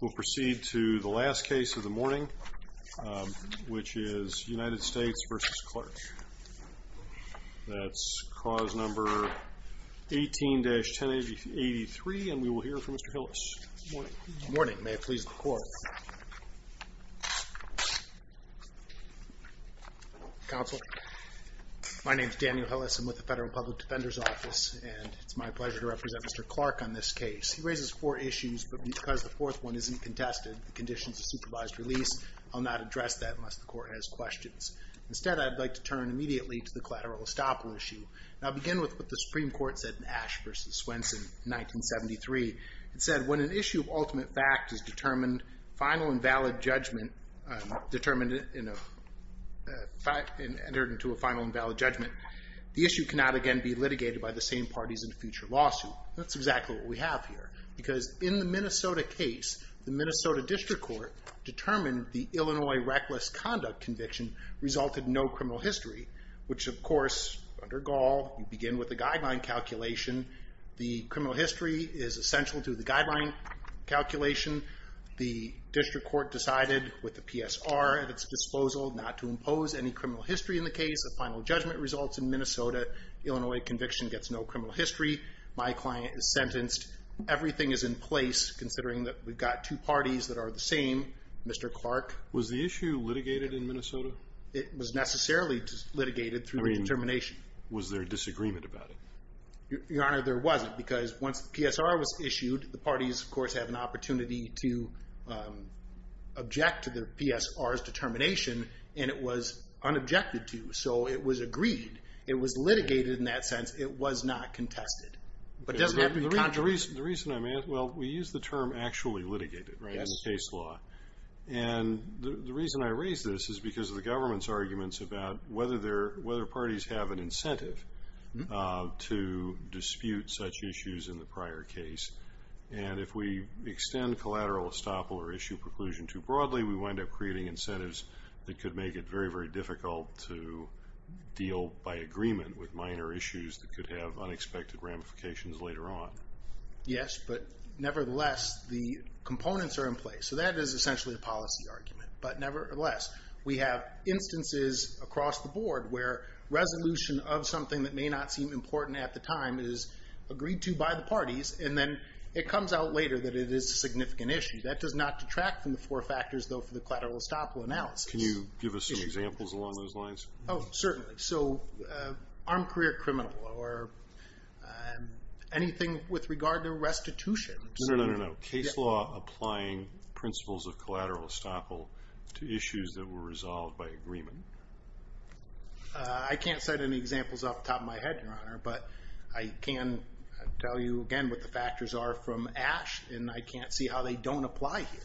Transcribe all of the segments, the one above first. We'll proceed to the last case of the morning, which is United States v. Clark. That's clause number 18-1083, and we will hear from Mr. Hillis. Morning. May it please the Court. Counsel, my name is Daniel Hillis. I'm with the Federal Public Defender's Office, and it's my pleasure to represent Mr. Clark on this case. He raises four issues, but because the fourth one isn't contested, the conditions of supervised release, I'll not address that unless the Court has questions. Instead, I'd like to turn immediately to the collateral estoppel issue. I'll begin with what the Supreme Court said in Ash v. Swenson, 1973. It said, when an issue of ultimate fact is determined, final and valid judgment, determined in a fact and entered into a final and valid judgment, the issue cannot again be litigated by the same parties in a future lawsuit. That's exactly what we have here, because in the Minnesota case, the Minnesota District Court determined the Illinois reckless conduct conviction resulted in no criminal history, which, of course, under Gaul, you begin with a guideline calculation. The criminal history is essential to the guideline calculation. The District Court decided, with the PSR at its disposal, not to impose any criminal history in the case. The final judgment results in Minnesota. Illinois conviction gets no criminal history. My client is sentenced. Everything is in place, considering that we've got two parties that are the same, Mr. Clark. Was the issue litigated in Minnesota? It was necessarily litigated through determination. I mean, was there a disagreement about it? Your Honor, there wasn't, because once the PSR was issued, the parties, of course, had an opportunity to object to the PSR's determination, and it was unobjected to, so it was agreed. It was litigated in that sense. It was not contested. The reason I'm asking, well, we use the term actually litigated in the case law, and the reason I raise this is because of the government's arguments about whether parties have an incentive to dispute such issues in the prior case, and if we extend collateral estoppel or issue preclusion too broadly, we wind up creating incentives that could make it very, very difficult to deal by agreement with minor issues that could have unexpected ramifications later on. Yes, but nevertheless, the components are in place. So that is essentially a policy argument. But nevertheless, we have instances across the board where resolution of something that may not seem important at the time is agreed to by the parties, and then it comes out later that it is a significant issue. That does not detract from the four factors, though, for the collateral estoppel analysis. Can you give us some examples along those lines? Oh, certainly. So armed career criminal or anything with regard to restitution. No, no, no, no. Case law applying principles of collateral estoppel to issues that were resolved by agreement. I can't set any examples off the top of my head, Your Honor, but I can tell you again what the factors are from ASH, and I can't see how they don't apply here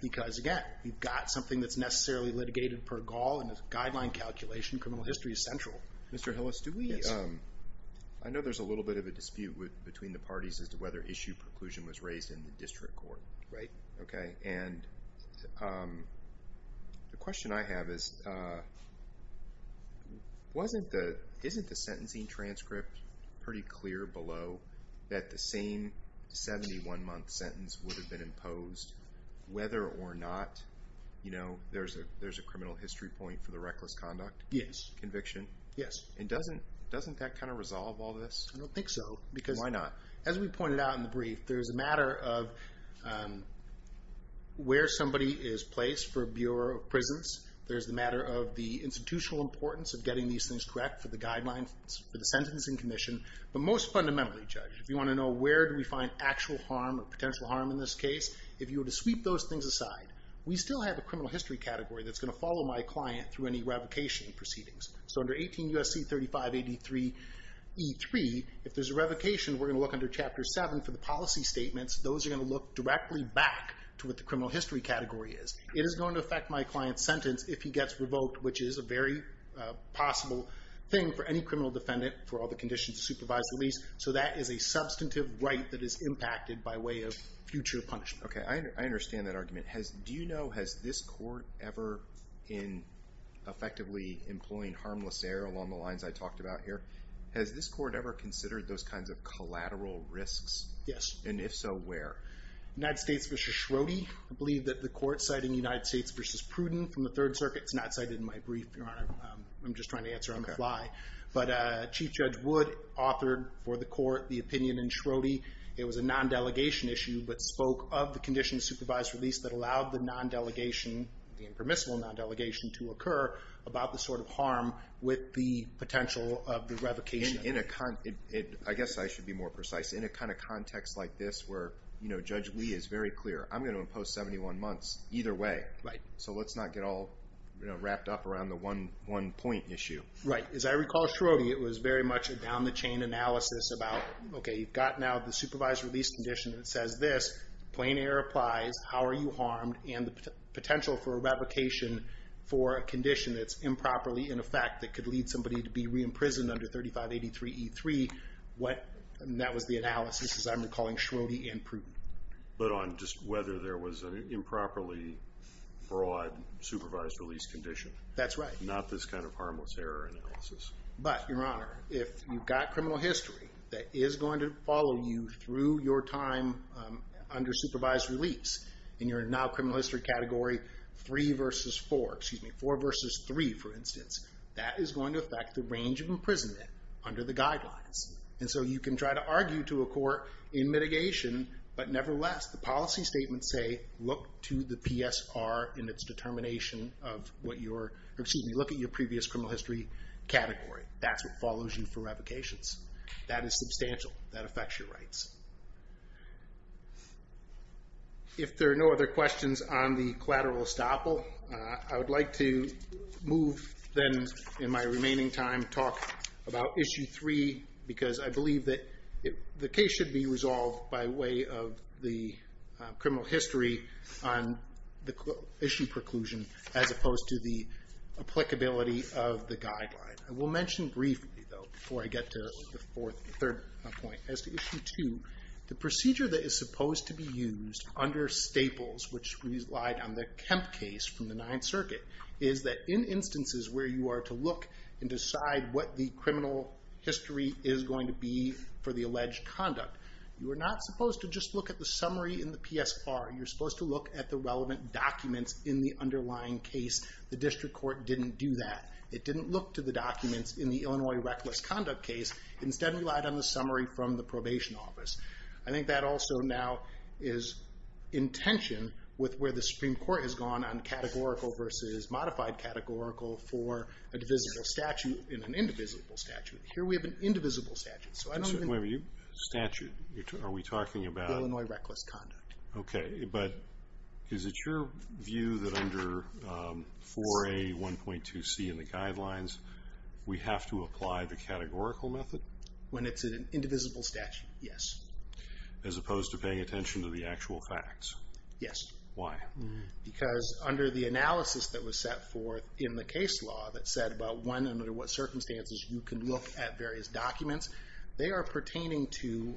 because, again, we've got something that's necessarily litigated per gaul, and as a guideline calculation, criminal history is central. Mr. Hillis, I know there's a little bit of a dispute between the parties as to whether issue preclusion was raised in the district court. Right. Okay, and the question I have is, isn't the sentencing transcript pretty clear below that the same 71-month sentence would have been imposed whether or not there's a criminal history point for the reckless conduct? Conviction? Yes. And doesn't that kind of resolve all this? I don't think so. Why not? Because, as we pointed out in the brief, there's a matter of where somebody is placed for a Bureau of Prisons. There's the matter of the institutional importance of getting these things correct for the guidelines for the Sentencing Commission, but most fundamentally, Judge, if you want to know where do we find actual harm or potential harm in this case, if you were to sweep those things aside, we still have a criminal history category that's going to follow my client through any revocation proceedings. So under 18 U.S.C. 3583E3, if there's a revocation, we're going to look under Chapter 7 for the policy statements. Those are going to look directly back to what the criminal history category is. It is going to affect my client's sentence if he gets revoked, which is a very possible thing for any criminal defendant for all the conditions of supervised release. So that is a substantive right that is impacted by way of future punishment. Okay. I understand that argument. Do you know, has this court ever in effectively employing harmless error along the lines I talked about here, has this court ever considered those kinds of collateral risks? Yes. And if so, where? United States v. Schroeder. I believe that the court citing United States v. Pruden from the Third Circuit, it's not cited in my brief, Your Honor. I'm just trying to answer on the fly. But Chief Judge Wood authored for the court the opinion in Schroeder. It was a non-delegation issue but spoke of the conditions of supervised release that allowed the non-delegation, the impermissible non-delegation, to occur about the sort of harm with the potential of the revocation. I guess I should be more precise. In a kind of context like this where Judge Lee is very clear, I'm going to impose 71 months either way. Right. So let's not get all wrapped up around the one-point issue. Right. As I recall, Schroeder, it was very much a down-the-chain analysis about, okay, you've got now the supervised release condition that says this. Plain error applies. How are you harmed? And the potential for revocation for a condition that's improperly in effect that could lead somebody to be re-imprisoned under 3583E3, that was the analysis, as I'm recalling, Schroeder and Pruden. But on just whether there was an improperly broad supervised release condition. That's right. Not this kind of harmless error analysis. But, Your Honor, if you've got criminal history that is going to follow you through your time under supervised release, and you're now criminal history category 3 versus 4, excuse me, 4 versus 3, for instance, that is going to affect the range of imprisonment under the guidelines. And so you can try to argue to a court in mitigation, but nevertheless the policy statements say look to the PSR in its determination of what your, excuse me, look at your previous criminal history category. That's what follows you for revocations. That is substantial. That affects your rights. If there are no other questions on the collateral estoppel, I would like to move then in my remaining time, talk about issue 3, because I believe that the case should be resolved by way of the criminal history on the issue preclusion as opposed to the applicability of the guideline. I will mention briefly, though, before I get to the third point, as to issue 2, the procedure that is supposed to be used under staples, which relied on the Kemp case from the Ninth Circuit, is that in instances where you are to look and decide what the criminal history is going to be for the alleged conduct, you are not supposed to just look at the summary in the PSR. You are supposed to look at the relevant documents in the underlying case. The district court didn't do that. It didn't look to the documents in the Illinois reckless conduct case. Instead, it relied on the summary from the probation office. I think that also now is in tension with where the Supreme Court has gone on categorical versus modified categorical for a divisible statute and an indivisible statute. Here we have an indivisible statute. So I don't even... Is it your view that under 4A1.2C in the guidelines, we have to apply the categorical method? When it's an indivisible statute, yes. As opposed to paying attention to the actual facts? Yes. Why? Because under the analysis that was set forth in the case law that said about when and under what circumstances you can look at various documents, they are pertaining to,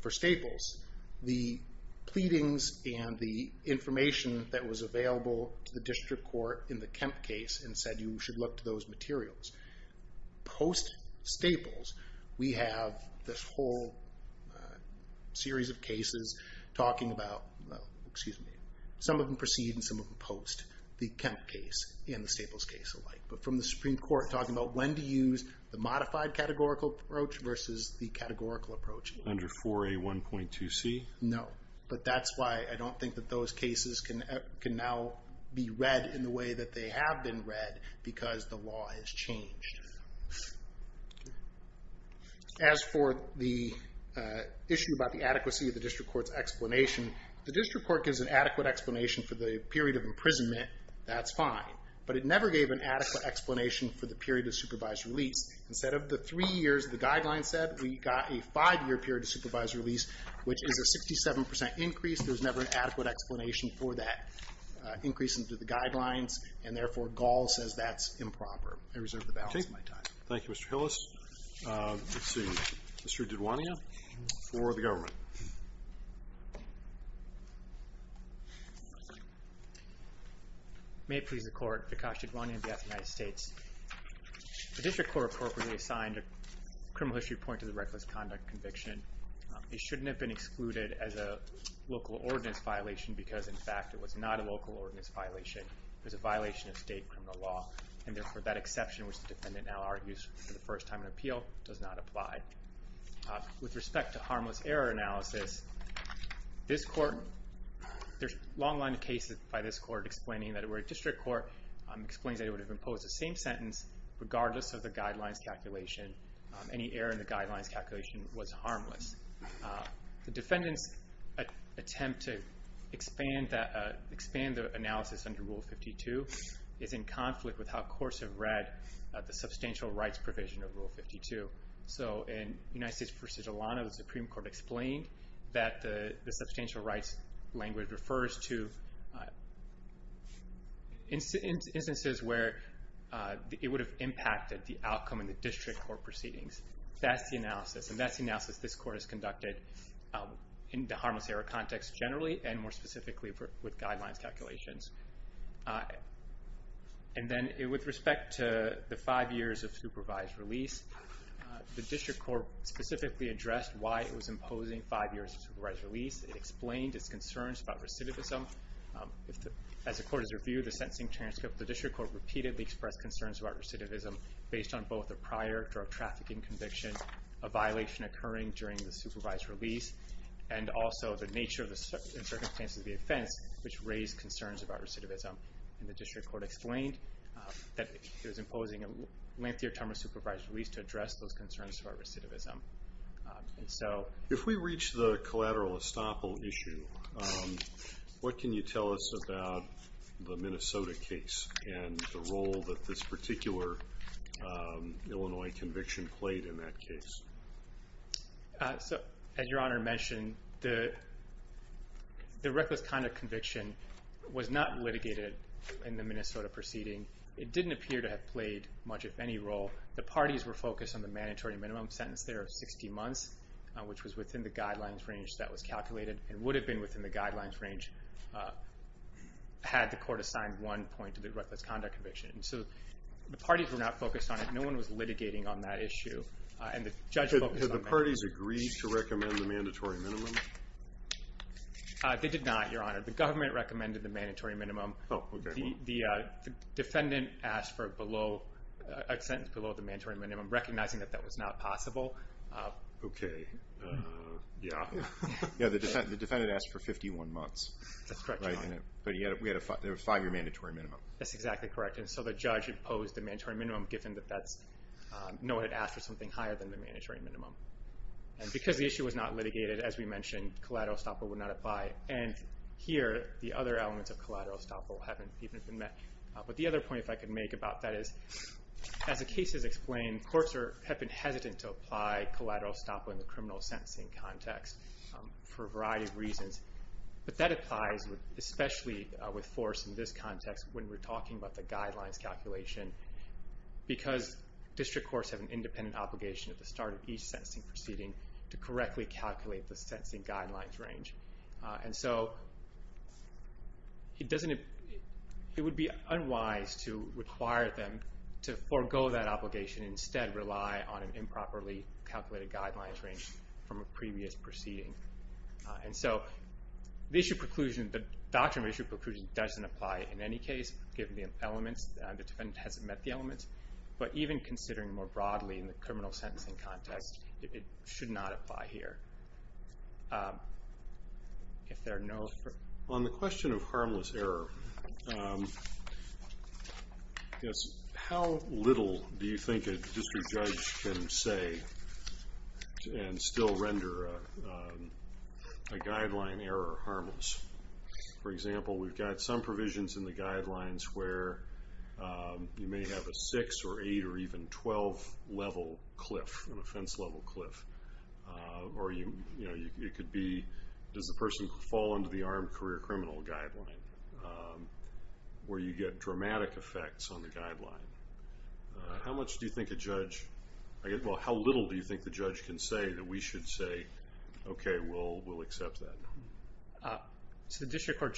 for staples, the pleadings and the information that was available to the district court in the Kemp case and said you should look to those materials. Post-staples, we have this whole series of cases talking about, excuse me, some of them precede and some of them post the Kemp case and the staples case alike. But from the Supreme Court talking about when to use the modified categorical approach versus the categorical approach. Under 4A1.2C? No. But that's why I don't think that those cases can now be read in the way that they have been read because the law has changed. As for the issue about the adequacy of the district court's explanation, the district court gives an adequate explanation for the period of imprisonment. That's fine. But it never gave an adequate explanation for the period of supervised release. Instead of the three years the guidelines said, we got a five-year period of supervised release, which is a 67% increase. There's never an adequate explanation for that increase into the guidelines, and therefore Gall says that's improper. I reserve the balance of my time. Okay. Thank you, Mr. Hillis. Let's see. Mr. Diduania for the government. May it please the Court, Vikash Diduania of the United States. The district court appropriately assigned a criminal history point to the reckless conduct conviction. It shouldn't have been excluded as a local ordinance violation because, in fact, it was not a local ordinance violation. It was a violation of state criminal law, and therefore that exception, which the defendant now argues for the first time in an appeal, does not apply. With respect to harmless error analysis, there's a long line of cases by this court explaining that if it were a district court, explaining that it would have imposed the same sentence regardless of the guidelines calculation, any error in the guidelines calculation was harmless. The defendant's attempt to expand the analysis under Rule 52 is in conflict with how courts have read the substantial rights provision of Rule 52. So in United States v. Atlanta, the Supreme Court explained that the substantial rights language refers to instances where it would have impacted the outcome in the district court proceedings. That's the analysis. And that's the analysis this court has conducted in the harmless error context generally, and more specifically with guidelines calculations. And then with respect to the five years of supervised release, the district court specifically addressed why it was imposing five years of supervised release. It explained its concerns about recidivism. As the court has reviewed the sentencing transcript, the district court repeatedly expressed concerns about recidivism based on both a prior drug trafficking conviction, a violation occurring during the supervised release, and also the nature and circumstances of the offense which raised concerns about recidivism. And the district court explained that it was imposing a lengthier term of supervised release to address those concerns about recidivism. If we reach the collateral estoppel issue, what can you tell us about the Minnesota case and the role that this particular Illinois conviction played in that case? As Your Honor mentioned, the reckless conduct conviction was not litigated in the Minnesota proceeding. It didn't appear to have played much, if any, role. The parties were focused on the mandatory minimum sentenced there of 60 months, which was within the guidelines range that was calculated and would have been within the guidelines range had the court assigned one point to the reckless conduct conviction. So the parties were not focused on it. No one was litigating on that issue. And the judge focused on mandatory minimum. Did the parties agree to recommend the mandatory minimum? They did not, Your Honor. The government recommended the mandatory minimum. The defendant asked for a sentence below the mandatory minimum, recognizing that that was not possible. Okay. Yeah. The defendant asked for 51 months. That's correct, Your Honor. But we had a five-year mandatory minimum. That's exactly correct. And so the judge imposed the mandatory minimum given that no one had asked for something higher than the mandatory minimum. And because the issue was not litigated, as we mentioned, collateral estoppel would not apply. And here, the other elements of collateral estoppel haven't even been met. But the other point, if I could make about that, is as the case is explained, courts have been hesitant to apply collateral estoppel in the criminal sentencing context for a variety of reasons. But that applies especially with force in this context when we're talking about the guidelines calculation because district courts have an independent obligation at the start of each sentencing proceeding to correctly calculate the sentencing guidelines range. And so it would be unwise to require them to forego that obligation and instead rely on an improperly calculated guidelines range from a previous proceeding. And so the doctrine of issue preclusion doesn't apply in any case given the elements. The defendant hasn't met the elements. But even considering more broadly in the criminal sentencing context, it should not apply here. If there are no further... On the question of harmless error, how little do you think a district judge can say and still render a guideline error harmless? For example, we've got some provisions in the guidelines where you may have a 6 or 8 or even 12 level cliff, an offense level cliff. Or it could be, does the person fall under the armed career criminal guideline where you get dramatic effects on the guideline? How much do you think a judge... Well, how little do you think the judge can say that we should say, okay, we'll accept that? The district court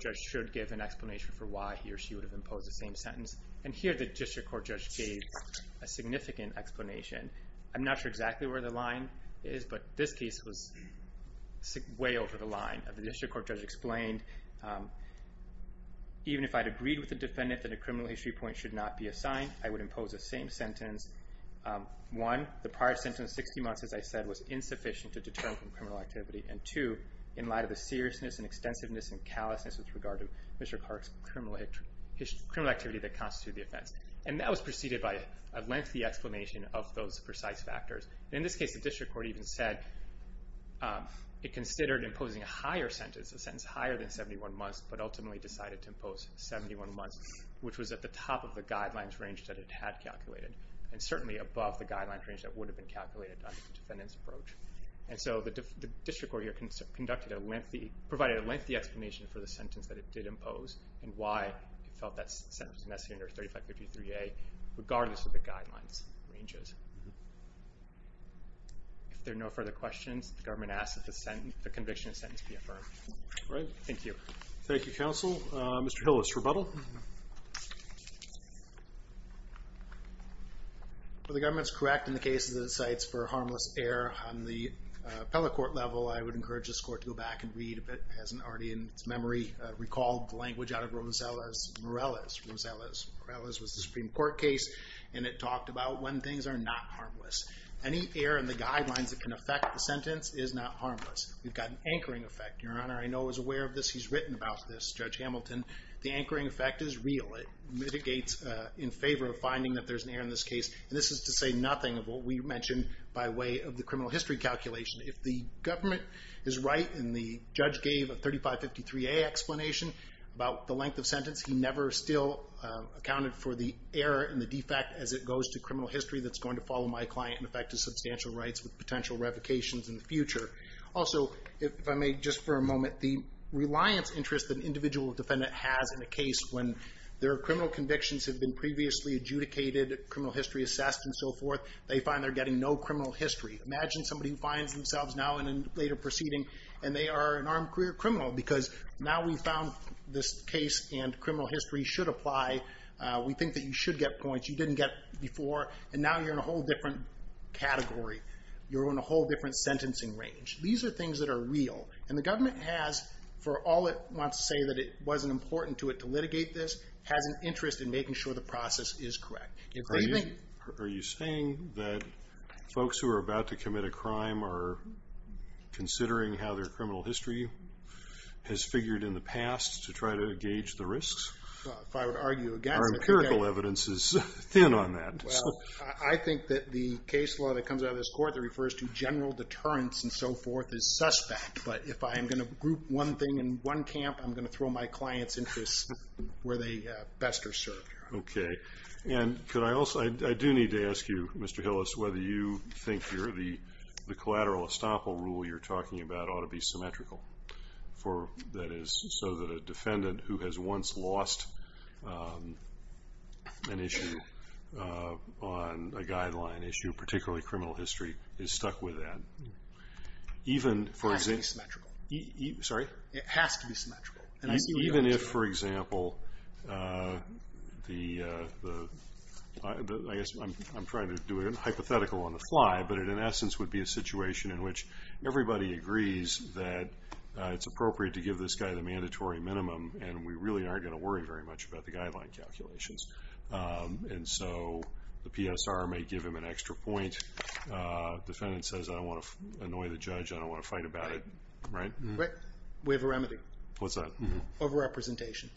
judge should give an explanation for why he or she would have imposed the same sentence. And here the district court judge gave a significant explanation. I'm not sure exactly where the line is, but this case was way over the line. The district court judge explained, even if I'd agreed with the defendant that a criminal history point should not be assigned, I would impose the same sentence. One, the prior sentence, 60 months, as I said, was insufficient to deter him from criminal activity. And two, in light of the seriousness and extensiveness and callousness with regard to Mr. Clark's criminal activity that constitutes the offense. And that was preceded by a lengthy explanation of those precise factors. In this case, the district court even said it considered imposing a higher sentence, a sentence higher than 71 months, but ultimately decided to impose 71 months, which was at the top of the guidelines range that it had calculated, and certainly above the guidelines range that would have been calculated under the defendant's approach. And so the district court here conducted a lengthy... and why it felt that sentence was necessary under 3553A, regardless of the guidelines ranges. If there are no further questions, the government asks that the conviction and sentence be affirmed. Thank you. Thank you, counsel. Mr. Hillis, rebuttal? The government's correct in the case that it cites for harmless error. On the appellate court level, I would encourage this court to go back and read if it hasn't already in its memory recalled the language out of Rosales-Morales. Rosales-Morales was the Supreme Court case, and it talked about when things are not harmless. Any error in the guidelines that can affect the sentence is not harmless. We've got an anchoring effect, Your Honor. I know I was aware of this. He's written about this, Judge Hamilton. The anchoring effect is real. It mitigates in favor of finding that there's an error in this case. And this is to say nothing of what we mentioned by way of the criminal history calculation. If the government is right, and the judge gave a 3553A explanation about the length of sentence, he never still accounted for the error and the defect as it goes to criminal history that's going to follow my client and affect his substantial rights with potential revocations in the future. Also, if I may, just for a moment, the reliance interest that an individual defendant has in a case when their criminal convictions have been previously adjudicated, criminal history assessed, and so forth, they find they're getting no criminal history. Imagine somebody who finds themselves now in a later proceeding, and they are an armed career criminal because now we've found this case and criminal history should apply. We think that you should get points you didn't get before. And now you're in a whole different category. You're in a whole different sentencing range. These are things that are real. And the government has, for all it wants to say that it wasn't important to it to litigate this, has an interest in making sure the process is correct. Are you saying that folks who are about to commit a crime are considering how their criminal history has figured in the past to try to gauge the risks? If I would argue against it. Our empirical evidence is thin on that. I think that the case law that comes out of this court that refers to general deterrence and so forth is suspect. But if I am going to group one thing in one camp, I'm going to throw my client's interests where they best are served. Okay. And I do need to ask you, Mr. Hillis, whether you think the collateral estoppel rule you're talking about ought to be symmetrical. That is, so that a defendant who has once lost an issue on a guideline issue, particularly criminal history, is stuck with that. Sorry? It has to be symmetrical. Even if, for example, I guess I'm trying to do it hypothetical on the fly, but it in essence would be a situation in which everybody agrees that it's appropriate to give this guy the mandatory minimum and we really aren't going to worry very much about the guideline calculations. And so the PSR may give him an extra point. Defendant says, I don't want to annoy the judge. I don't want to fight about it. Right? We have a remedy. What's that? Over-representation.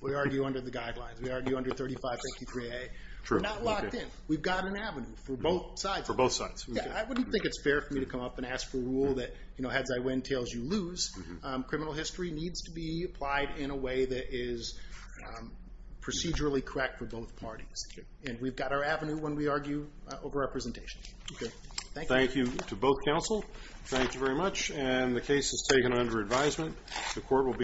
We argue under the guidelines. We argue under 3553A. We're not locked in. We've got an avenue for both sides. For both sides. I wouldn't think it's fair for me to come up and ask for a rule that, heads I win, tails you lose. Criminal history needs to be applied in a way that is procedurally correct for both parties. And we've got our avenue when we argue over-representation. Okay. Thank you. Thank you to both counsel. Thank you very much. And the case is taken under advisement.